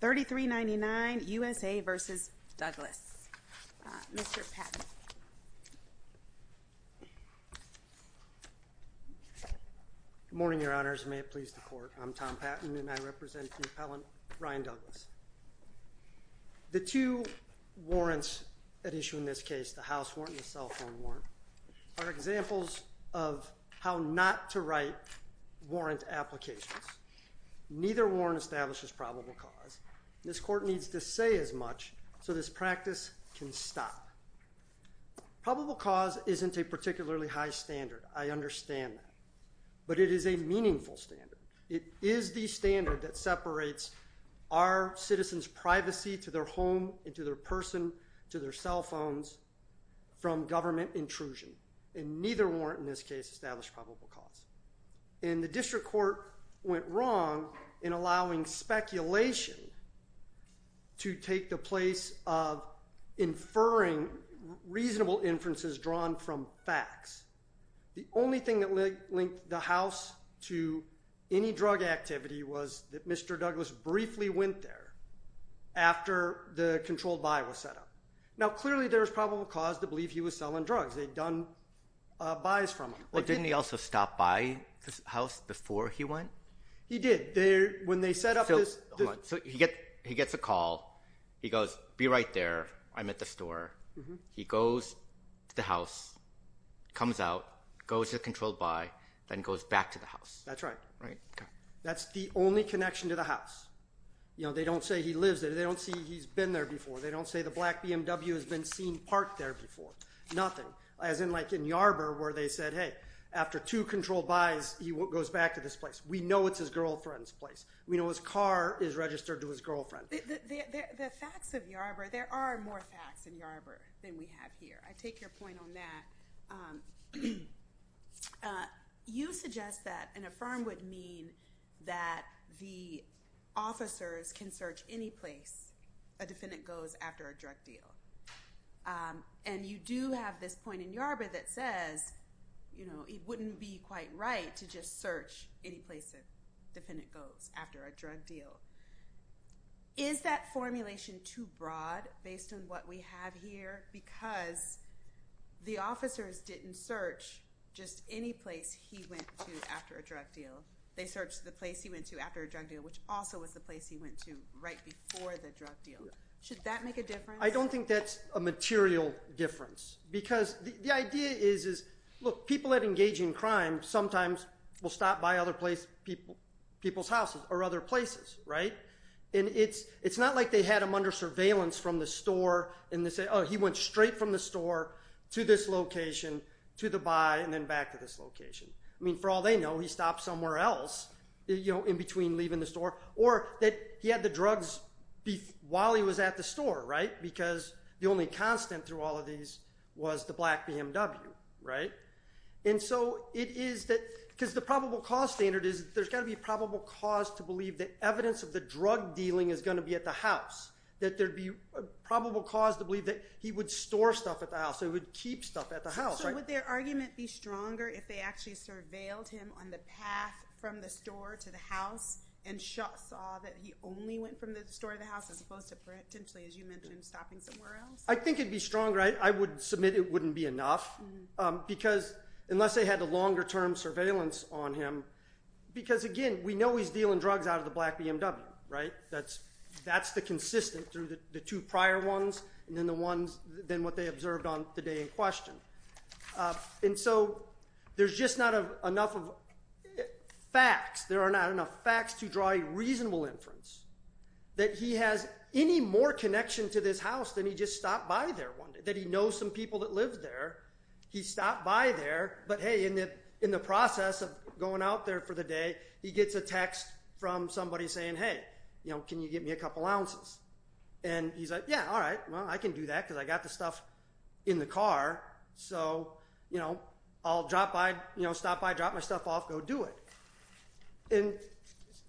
3399 USA v. Douglas. Mr. Patton. Good morning, your honors. May it please the court. I'm Tom Patton and I represent the appellant Ryan Douglas. The two warrants at issue in this case, the house warrant and the cell phone warrant, are examples of how not to write warrant applications. Neither warrant establishes probable cause. This court needs to say as much so this practice can stop. Probable cause isn't a particularly high standard. I understand that. But it is a meaningful standard. It is the standard that separates our citizens' privacy to their home, to their person, to their cell phones, from government intrusion. And neither warrant in this case established probable cause. And the district court went wrong in allowing speculation to take the place of inferring reasonable inferences drawn from facts. The only thing that linked the house to any drug activity was that Mr. Douglas briefly went there after the controlled buy was set up. Now clearly there's probable cause to believe he was selling drugs. They'd done buys from him. Didn't he also stop by the house before he went? He did. When they set up this... So he gets a call. He goes, be right there. I'm at the store. He goes to the house, comes out, goes to the controlled buy, then goes back to the house. That's right. That's the only connection to the house. They don't say he lives there. They don't say he's been there before. They don't say the black BMW has been seen parked there before. Nothing. As in like in Yarbor where they said, hey, after two controlled buys, he goes back to this place. We know it's his girlfriend's place. We know his car is registered to his girlfriend. The facts of Yarbor, there are more facts in Yarbor than we have here. I take your point on that. You suggest that an affirm would mean that the officers can search any place a defendant goes after a drug deal. And you do have this point in Yarbor that says it wouldn't be quite right to just search any place a defendant goes after a drug deal. Is that formulation too broad based on what we have here? Because the officers didn't search just any place he went to after a drug deal. They searched the place he went to after a drug deal, which also was the place he went to right before the drug deal. Should that make a difference? I don't think that's a material difference. Because the idea is, look, people that engage in crime sometimes will stop by other people's houses or other places, right? And it's not like they had him under surveillance from the store and they say, oh, he went straight from the store to this location, to the buy, and then back to this location. I mean, for all they know, he stopped somewhere else in between leaving the store. Or that he had the drugs while he was at the store, right? Because the only constant through all of these was the black BMW, right? And so it is that because the probable cause standard is there's got to be probable cause to believe that evidence of the drug dealing is going to be at the house. That there would be probable cause to believe that he would store stuff at the house, he would keep stuff at the house. So would their argument be stronger if they actually surveilled him on the path from the store to the house and saw that he only went from the store to the house as opposed to potentially, as you mentioned, stopping somewhere else? I think it would be stronger. I would submit it wouldn't be enough. Because unless they had a longer term surveillance on him, because again, we know he's dealing drugs out of the black BMW, right? That's the consistent through the two prior ones and then the ones, then what they observed on the day in question. And so there's just not enough of facts. There are not enough facts to draw a reasonable inference that he has any more connection to this house than he just stopped by there one day. That he knows some people that lived there. He stopped by there. But hey, in the process of going out there for the day, he gets a text from somebody saying, hey, can you get me a couple ounces? And he's like, yeah, all right. Well, I can do that because I got the stuff in the car. So I'll stop by, drop my stuff off, go do it.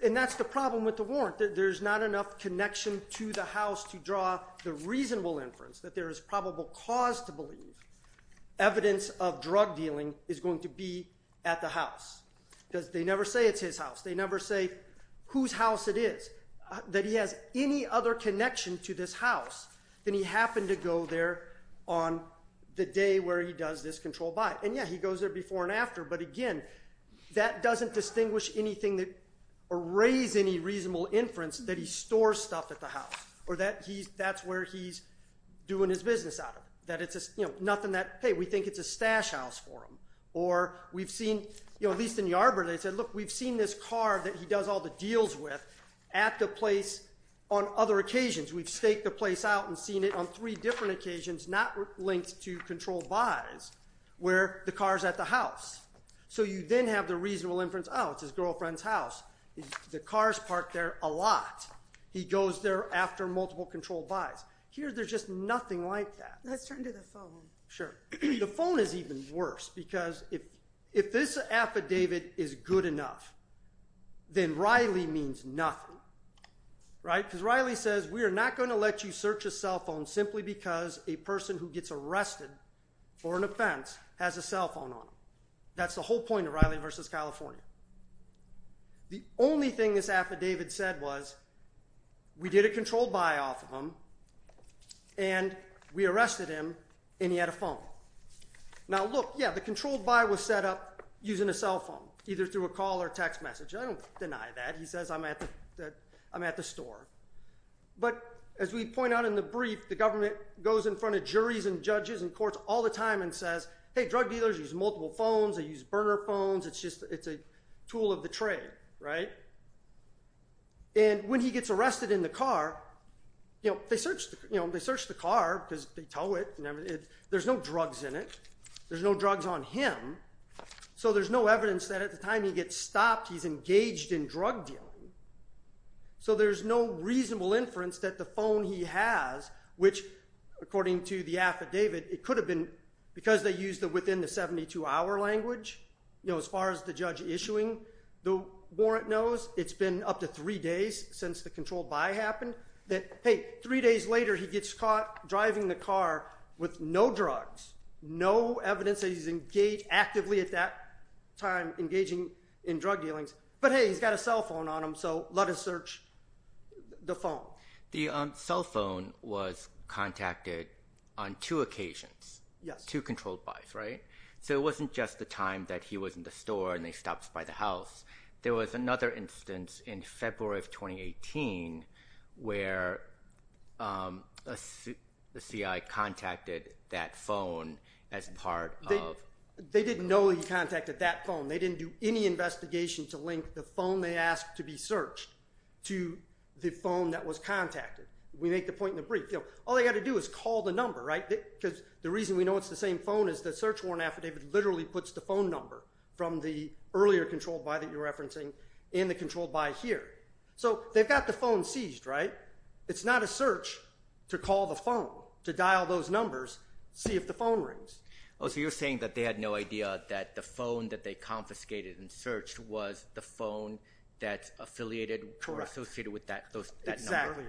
And that's the problem with the warrant. There's not enough connection to the house to draw the reasonable inference that there is probable cause to believe evidence of drug dealing is going to be at the house. Because they never say it's his house. They never say whose house it is. That he has any other connection to this house than he happened to go there on the day where he does this controlled buy. And yeah, he goes there before and after. But again, that doesn't distinguish anything or raise any reasonable inference that he stores stuff at the house. Or that's where he's doing his business out of it. That it's nothing that, hey, we think it's a stash house for him. Or we've seen, at least in Yarborough, they said, look, we've seen this car that he does all the deals with at the place on other occasions. We've staked the place out and seen it on three different occasions not linked to controlled buys where the car's at the house. So you then have the reasonable inference, oh, it's his girlfriend's house. The car's parked there a lot. He goes there after multiple controlled buys. Here there's just nothing like that. Let's turn to the phone. Sure. The phone is even worse. Because if this affidavit is good enough, then Riley means nothing. Right? Because Riley says we are not going to let you search a cell phone simply because a person who gets arrested for an offense has a cell phone on them. That's the whole point of Riley v. California. The only thing this affidavit said was we did a controlled buy off of him and we arrested him and he had a phone. Now, look, yeah, the controlled buy was set up using a cell phone, either through a call or text message. I don't deny that. He says I'm at the store. But as we point out in the brief, the government goes in front of juries and judges and courts all the time and says, hey, drug dealers use multiple phones. They use burner phones. It's a tool of the trade. Right? And when he gets arrested in the car, they search the car because they tow it. There's no drugs in it. There's no drugs on him. So there's no evidence that at the time he gets stopped, he's engaged in drug dealing. So there's no reasonable inference that the phone he has, which according to the affidavit, it could have been because they used it within the 72-hour language. You know, as far as the judge issuing the warrant knows, it's been up to three days since the controlled buy happened. Hey, three days later, he gets caught driving the car with no drugs, no evidence that he's actively at that time engaging in drug dealings. But hey, he's got a cell phone on him, so let us search the phone. The cell phone was contacted on two occasions, two controlled buys, right? So it wasn't just the time that he was in the store and they stopped by the house. There was another instance in February of 2018 where the CI contacted that phone as part of… They didn't know he contacted that phone. They didn't do any investigation to link the phone they asked to be searched to the phone that was contacted. We make the point in the brief. All they got to do is call the number, right? Because the reason we know it's the same phone is the search warrant affidavit literally puts the phone number from the earlier controlled buy that you're referencing in the controlled buy here. So they've got the phone seized, right? It's not a search to call the phone, to dial those numbers, see if the phone rings. Oh, so you're saying that they had no idea that the phone that they confiscated and searched was the phone that's affiliated or associated with that number? Exactly,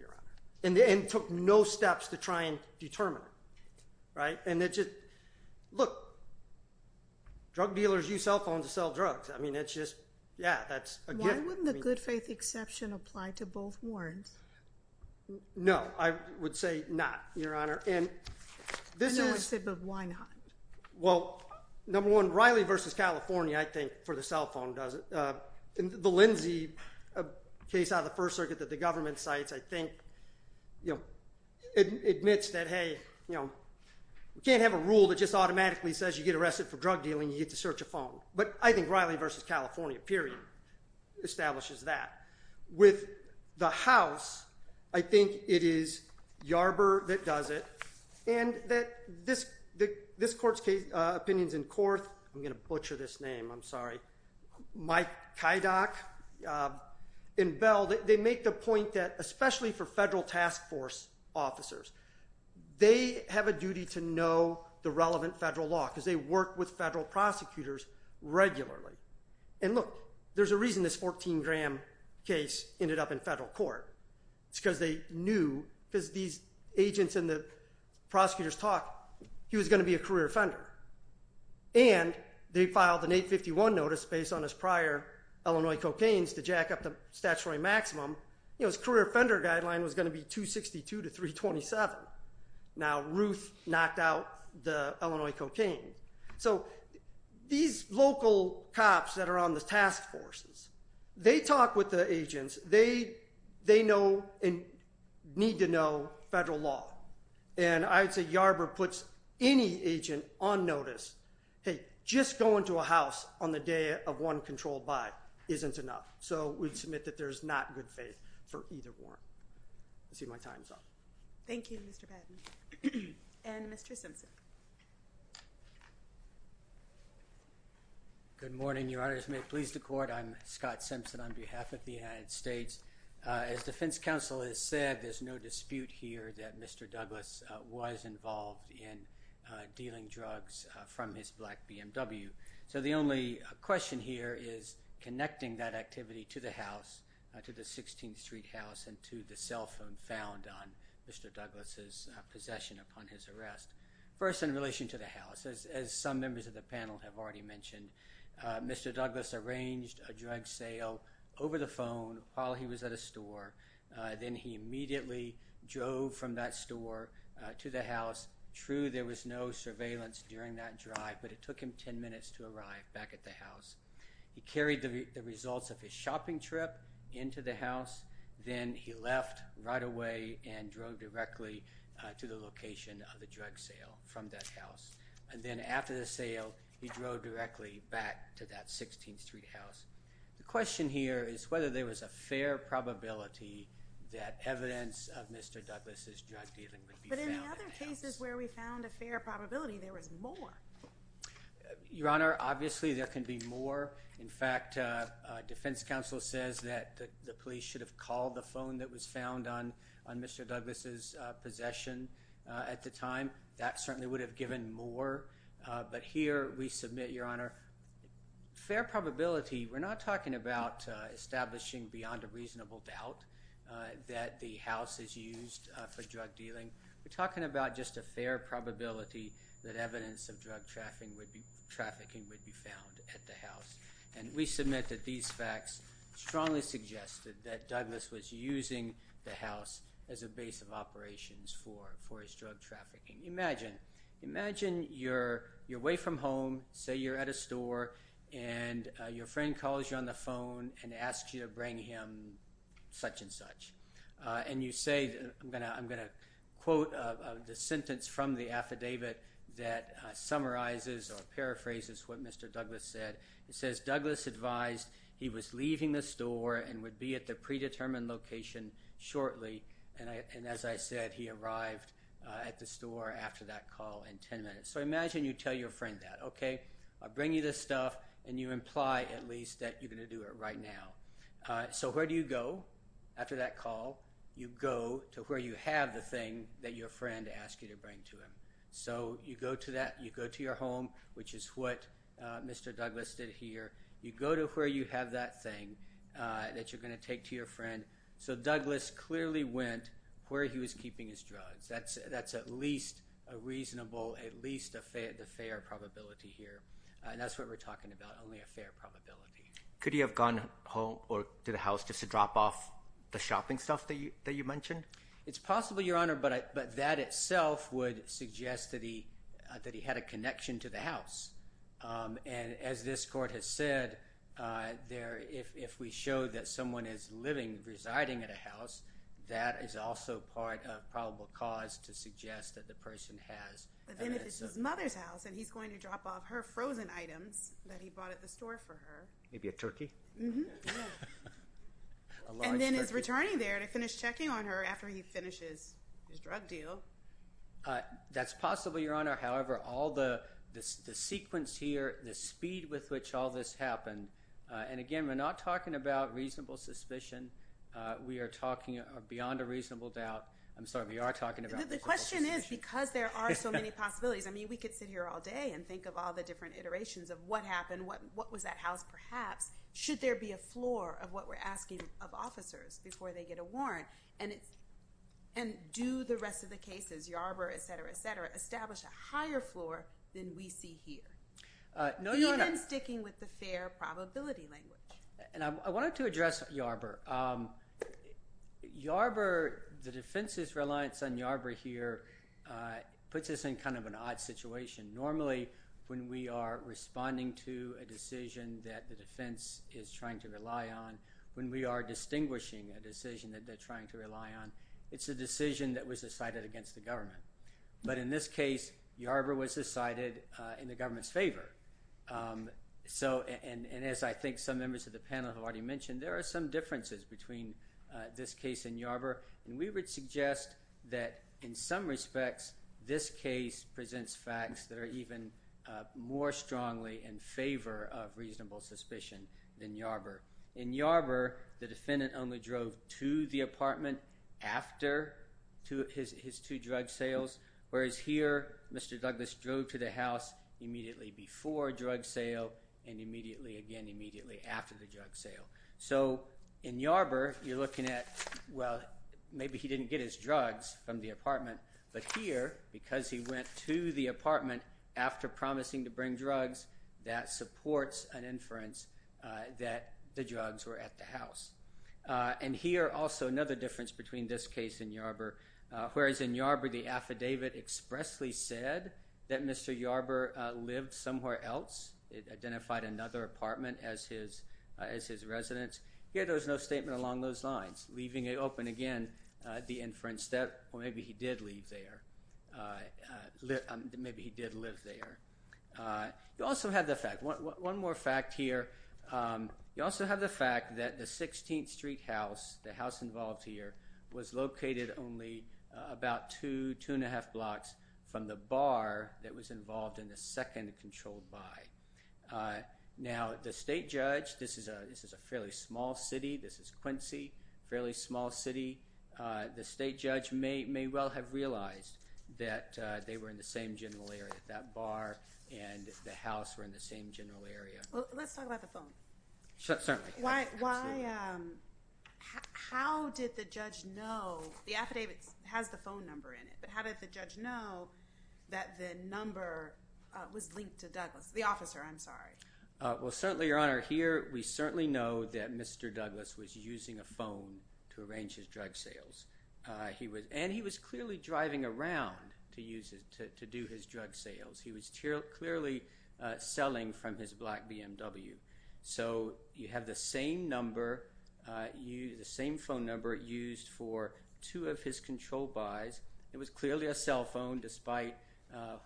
Your Honor. And they took no steps to try and determine it, right? And it just… Look, drug dealers use cell phones to sell drugs. I mean, it's just… Yeah, that's a gift. Why wouldn't the good faith exception apply to both warrants? No, I would say not, Your Honor. And this is… Another sip of Weinheim. Well, number one, Riley v. California, I think, for the cell phone doesn't… The Lindsay case out of the First Circuit that the government cites, I think, admits that, hey, we can't have a rule that just automatically says you get arrested for drug dealing, you get to search a phone. But I think Riley v. California, period, establishes that. With the house, I think it is Yarber that does it. And this court's opinions in Korth, I'm going to butcher this name, I'm sorry, Mike Kydock and Bell, they make the point that especially for federal task force officers, they have a duty to know the relevant federal law because they work with federal prosecutors regularly. And look, there's a reason this 14-gram case ended up in federal court. It's because they knew, because these agents and the prosecutors talked, he was going to be a career offender. And they filed an 851 notice based on his prior Illinois cocaines to jack up the statutory maximum. You know, his career offender guideline was going to be 262 to 327. Now, Ruth knocked out the Illinois cocaine. So these local cops that are on the task forces, they talk with the agents. They know and need to know federal law. And I would say Yarber puts any agent on notice, hey, just going to a house on the day of one controlled by isn't enough. So we'd submit that there's not good faith for either warrant. I see my time's up. Thank you, Mr. Patton. And Mr. Simpson. Good morning, Your Honors. May it please the court. I'm Scott Simpson on behalf of the United States. As defense counsel has said, there's no dispute here that Mr. Douglas was involved in dealing drugs from his black BMW. So the only question here is connecting that activity to the house, to the 16th Street house, and to the cell phone found on Mr. Douglas's possession upon his arrest. First, in relation to the house, as some members of the panel have already mentioned, Mr. Douglas arranged a drug sale over the phone while he was at a store. Then he immediately drove from that store to the house. True, there was no surveillance during that drive, but it took him 10 minutes to arrive back at the house. He carried the results of his shopping trip into the house. Then he left right away and drove directly to the location of the drug sale from that house. And then after the sale, he drove directly back to that 16th Street house. The question here is whether there was a fair probability that evidence of Mr. Douglas's drug dealing would be found at the house. But in other cases where we found a fair probability, there was more. Your Honor, obviously there can be more. In fact, defense counsel says that the police should have called the phone that was found on Mr. Douglas's possession at the time. That certainly would have given more. But here we submit, Your Honor, fair probability. We're not talking about establishing beyond a reasonable doubt that the house is used for drug dealing. We're talking about just a fair probability that evidence of drug trafficking would be found at the house. And we submit that these facts strongly suggested that Douglas was using the house as a base of operations for his drug trafficking. Imagine you're away from home, say you're at a store, and your friend calls you on the phone and asks you to bring him such and such. And you say, I'm going to quote the sentence from the affidavit that summarizes or paraphrases what Mr. Douglas said. It says, Douglas advised he was leaving the store and would be at the predetermined location shortly. And as I said, he arrived at the store after that call in 10 minutes. So imagine you tell your friend that, okay? I'll bring you this stuff, and you imply at least that you're going to do it right now. So where do you go after that call? You go to where you have the thing that your friend asked you to bring to him. So you go to that. You go to your home, which is what Mr. Douglas did here. You go to where you have that thing that you're going to take to your friend. So Douglas clearly went where he was keeping his drugs. That's at least a reasonable, at least a fair probability here. And that's what we're talking about, only a fair probability. Could he have gone home or to the house just to drop off the shopping stuff that you mentioned? It's possible, Your Honor, but that itself would suggest that he had a connection to the house. And as this court has said, if we show that someone is living, residing at a house, that is also part of probable cause to suggest that the person has. But then if it's his mother's house and he's going to drop off her frozen items that he bought at the store for her. Maybe a turkey? And then he's returning there to finish checking on her after he finishes his drug deal. That's possible, Your Honor. However, all the sequence here, the speed with which all this happened. And again, we're not talking about reasonable suspicion. We are talking beyond a reasonable doubt. I'm sorry, we are talking about reasonable suspicion. The question is because there are so many possibilities. I mean, we could sit here all day and think of all the different iterations of what happened, what was at house perhaps. Should there be a floor of what we're asking of officers before they get a warrant? And do the rest of the cases, Yarbrough, et cetera, et cetera, establish a higher floor than we see here? No, Your Honor. Even sticking with the fair probability language. And I wanted to address Yarbrough. Yarbrough, the defense's reliance on Yarbrough here puts us in kind of an odd situation. Normally, when we are responding to a decision that the defense is trying to rely on, when we are distinguishing a decision that they're trying to rely on, it's a decision that was decided against the government. But in this case, Yarbrough was decided in the government's favor. So, and as I think some members of the panel have already mentioned, there are some differences between this case and Yarbrough. And we would suggest that in some respects, this case presents facts that are even more strongly in favor of reasonable suspicion than Yarbrough. In Yarbrough, the defendant only drove to the apartment after his two drug sales. Whereas here, Mr. Douglas drove to the house immediately before drug sale and immediately again immediately after the drug sale. So, in Yarbrough, you're looking at, well, maybe he didn't get his drugs from the apartment. But here, because he went to the apartment after promising to bring drugs, that supports an inference that the drugs were at the house. And here, also, another difference between this case and Yarbrough. Whereas in Yarbrough, the affidavit expressly said that Mr. Yarbrough lived somewhere else. It identified another apartment as his residence. Here, there was no statement along those lines, leaving open again the inference that, well, maybe he did live there. You also have the fact, one more fact here. You also have the fact that the 16th Street house, the house involved here, was located only about two, two and a half blocks from the bar that was involved in the second controlled buy. Now, the state judge, this is a fairly small city. This is Quincy, a fairly small city. The state judge may well have realized that they were in the same general area, that bar and the house were in the same general area. Let's talk about the phone. Certainly. How did the judge know, the affidavit has the phone number in it, but how did the judge know that the number was linked to Douglas? The officer, I'm sorry. Well, certainly, Your Honor. Here, we certainly know that Mr. Douglas was using a phone to arrange his drug sales. And he was clearly driving around to do his drug sales. He was clearly selling from his black BMW. So, you have the same number, the same phone number used for two of his controlled buys. It was clearly a cell phone despite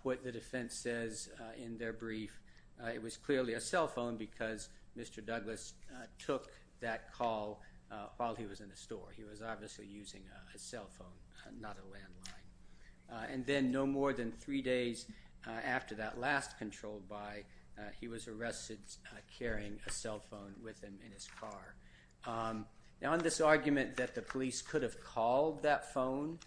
what the defense says in their brief. It was clearly a cell phone because Mr. Douglas took that call while he was in the store. He was obviously using a cell phone, not a landline. And then no more than three days after that last controlled buy, he was arrested carrying a cell phone with him in his car. Now, on this argument that the police could have called that phone,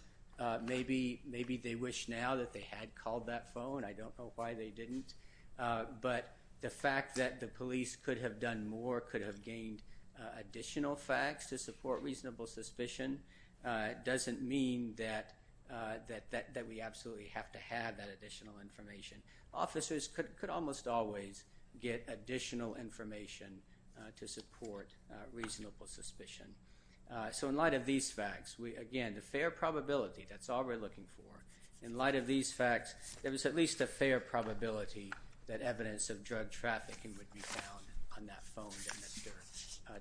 maybe they wish now that they had called that phone. I don't know why they didn't. But the fact that the police could have done more, could have gained additional facts to support reasonable suspicion, doesn't mean that we absolutely have to have that additional information. Officers could almost always get additional information to support reasonable suspicion. So, in light of these facts, again, the fair probability, that's all we're looking for. In light of these facts, there was at least a fair probability that evidence of drug trafficking would be found on that phone that Mr.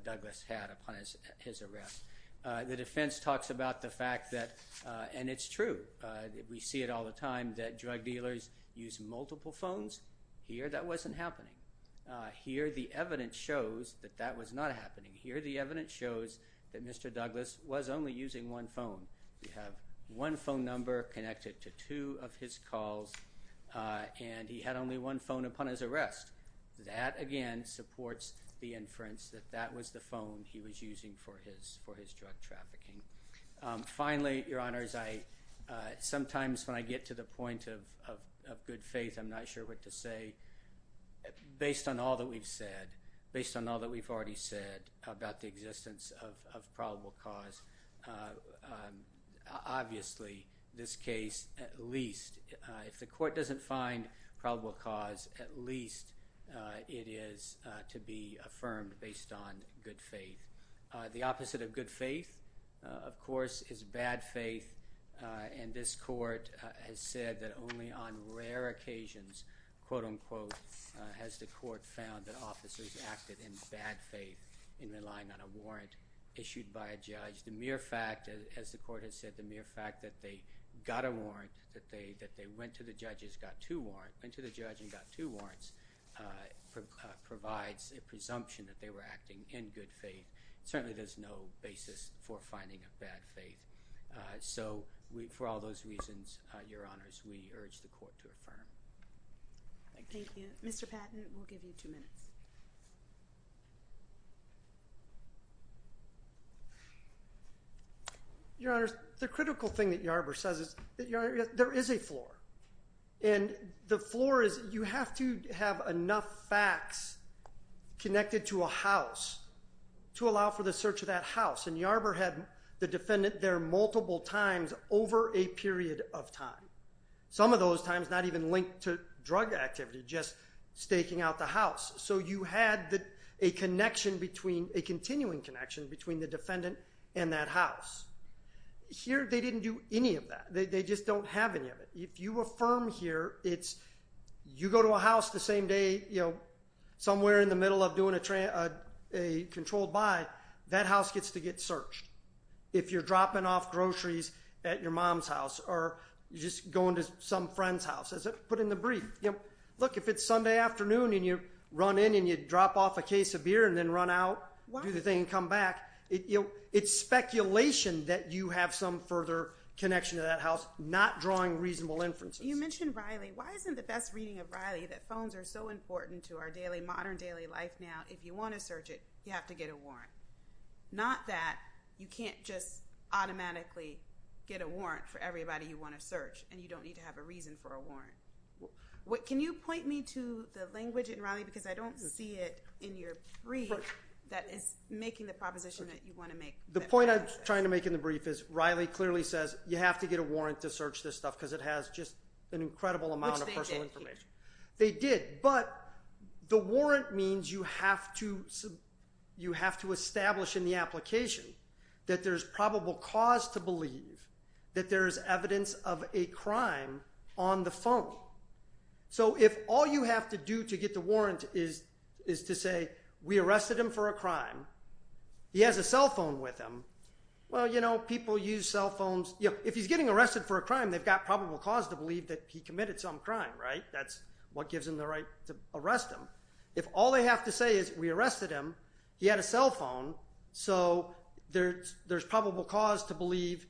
Douglas had upon his arrest. The defense talks about the fact that, and it's true, we see it all the time, that drug dealers use multiple phones. Here, that wasn't happening. Here, the evidence shows that that was not happening. Here, the evidence shows that Mr. Douglas was only using one phone. We have one phone number connected to two of his calls, and he had only one phone upon his arrest. That, again, supports the inference that that was the phone he was using for his drug trafficking. Finally, Your Honors, sometimes when I get to the point of good faith, I'm not sure what to say. Based on all that we've said, based on all that we've already said about the existence of probable cause, obviously, this case, at least, if the court doesn't find probable cause, at least it is to be affirmed based on good faith. The opposite of good faith, of course, is bad faith, and this court has said that only on rare occasions, quote, unquote, has the court found that officers acted in bad faith in relying on a warrant issued by a judge. The mere fact, as the court has said, the mere fact that they got a warrant, that they went to the judge and got two warrants, provides a presumption that they were acting in good faith. Certainly, there's no basis for finding a bad faith. So, for all those reasons, Your Honors, we urge the court to affirm. Thank you. Mr. Patton, we'll give you two minutes. Your Honors, the critical thing that Yarber says is that, Your Honor, there is a floor, and the floor is you have to have enough facts connected to a house to allow for the search of that house, and Yarber had the defendant there multiple times over a period of time. Some of those times, not even linked to drug activity, just staking out the house, so you had a continuing connection between the defendant and that house. Here, they didn't do any of that. They just don't have any of it. If you affirm here, it's you go to a house the same day, somewhere in the middle of doing a controlled buy, that house gets to get searched. If you're dropping off groceries at your mom's house or you're just going to some friend's house, as I put in the brief, look, if it's Sunday afternoon and you run in and you drop off a case of beer and then run out, do the thing and come back, it's speculation that you have some further connection to that house, not drawing reasonable inferences. You mentioned Riley. Why isn't the best reading of Riley that phones are so important to our modern daily life now, not that you can't just automatically get a warrant for everybody you want to search and you don't need to have a reason for a warrant? Can you point me to the language in Riley? Because I don't see it in your brief that is making the proposition that you want to make. The point I was trying to make in the brief is Riley clearly says you have to get a warrant to search this stuff because it has just an incredible amount of personal information. Which they did. But the warrant means you have to establish in the application that there's probable cause to believe that there is evidence of a crime on the phone. So if all you have to do to get the warrant is to say we arrested him for a crime, he has a cell phone with him, well, you know, people use cell phones. If he's getting arrested for a crime, they've got probable cause to believe that he committed some crime, right? That's what gives them the right to arrest him. If all they have to say is we arrested him, he had a cell phone, so there's probable cause to believe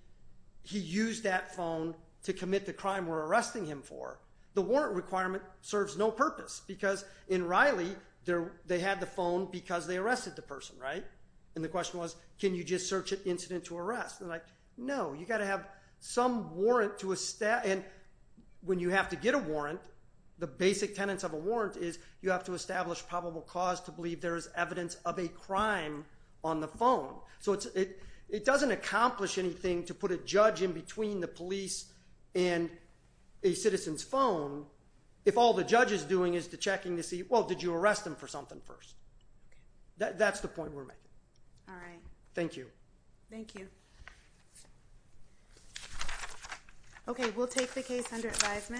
he used that phone to commit the crime we're arresting him for. The warrant requirement serves no purpose because in Riley they had the phone because they arrested the person, right? And the question was can you just search an incident to arrest? No, you've got to have some warrant to establish. When you have to get a warrant, the basic tenets of a warrant is you have to establish probable cause to believe there is evidence of a crime on the phone. So it doesn't accomplish anything to put a judge in between the police and a citizen's phone if all the judge is doing is checking to see, well, did you arrest him for something first? That's the point we're making. Thank you. Thank you. Okay, we'll take the case under advisement.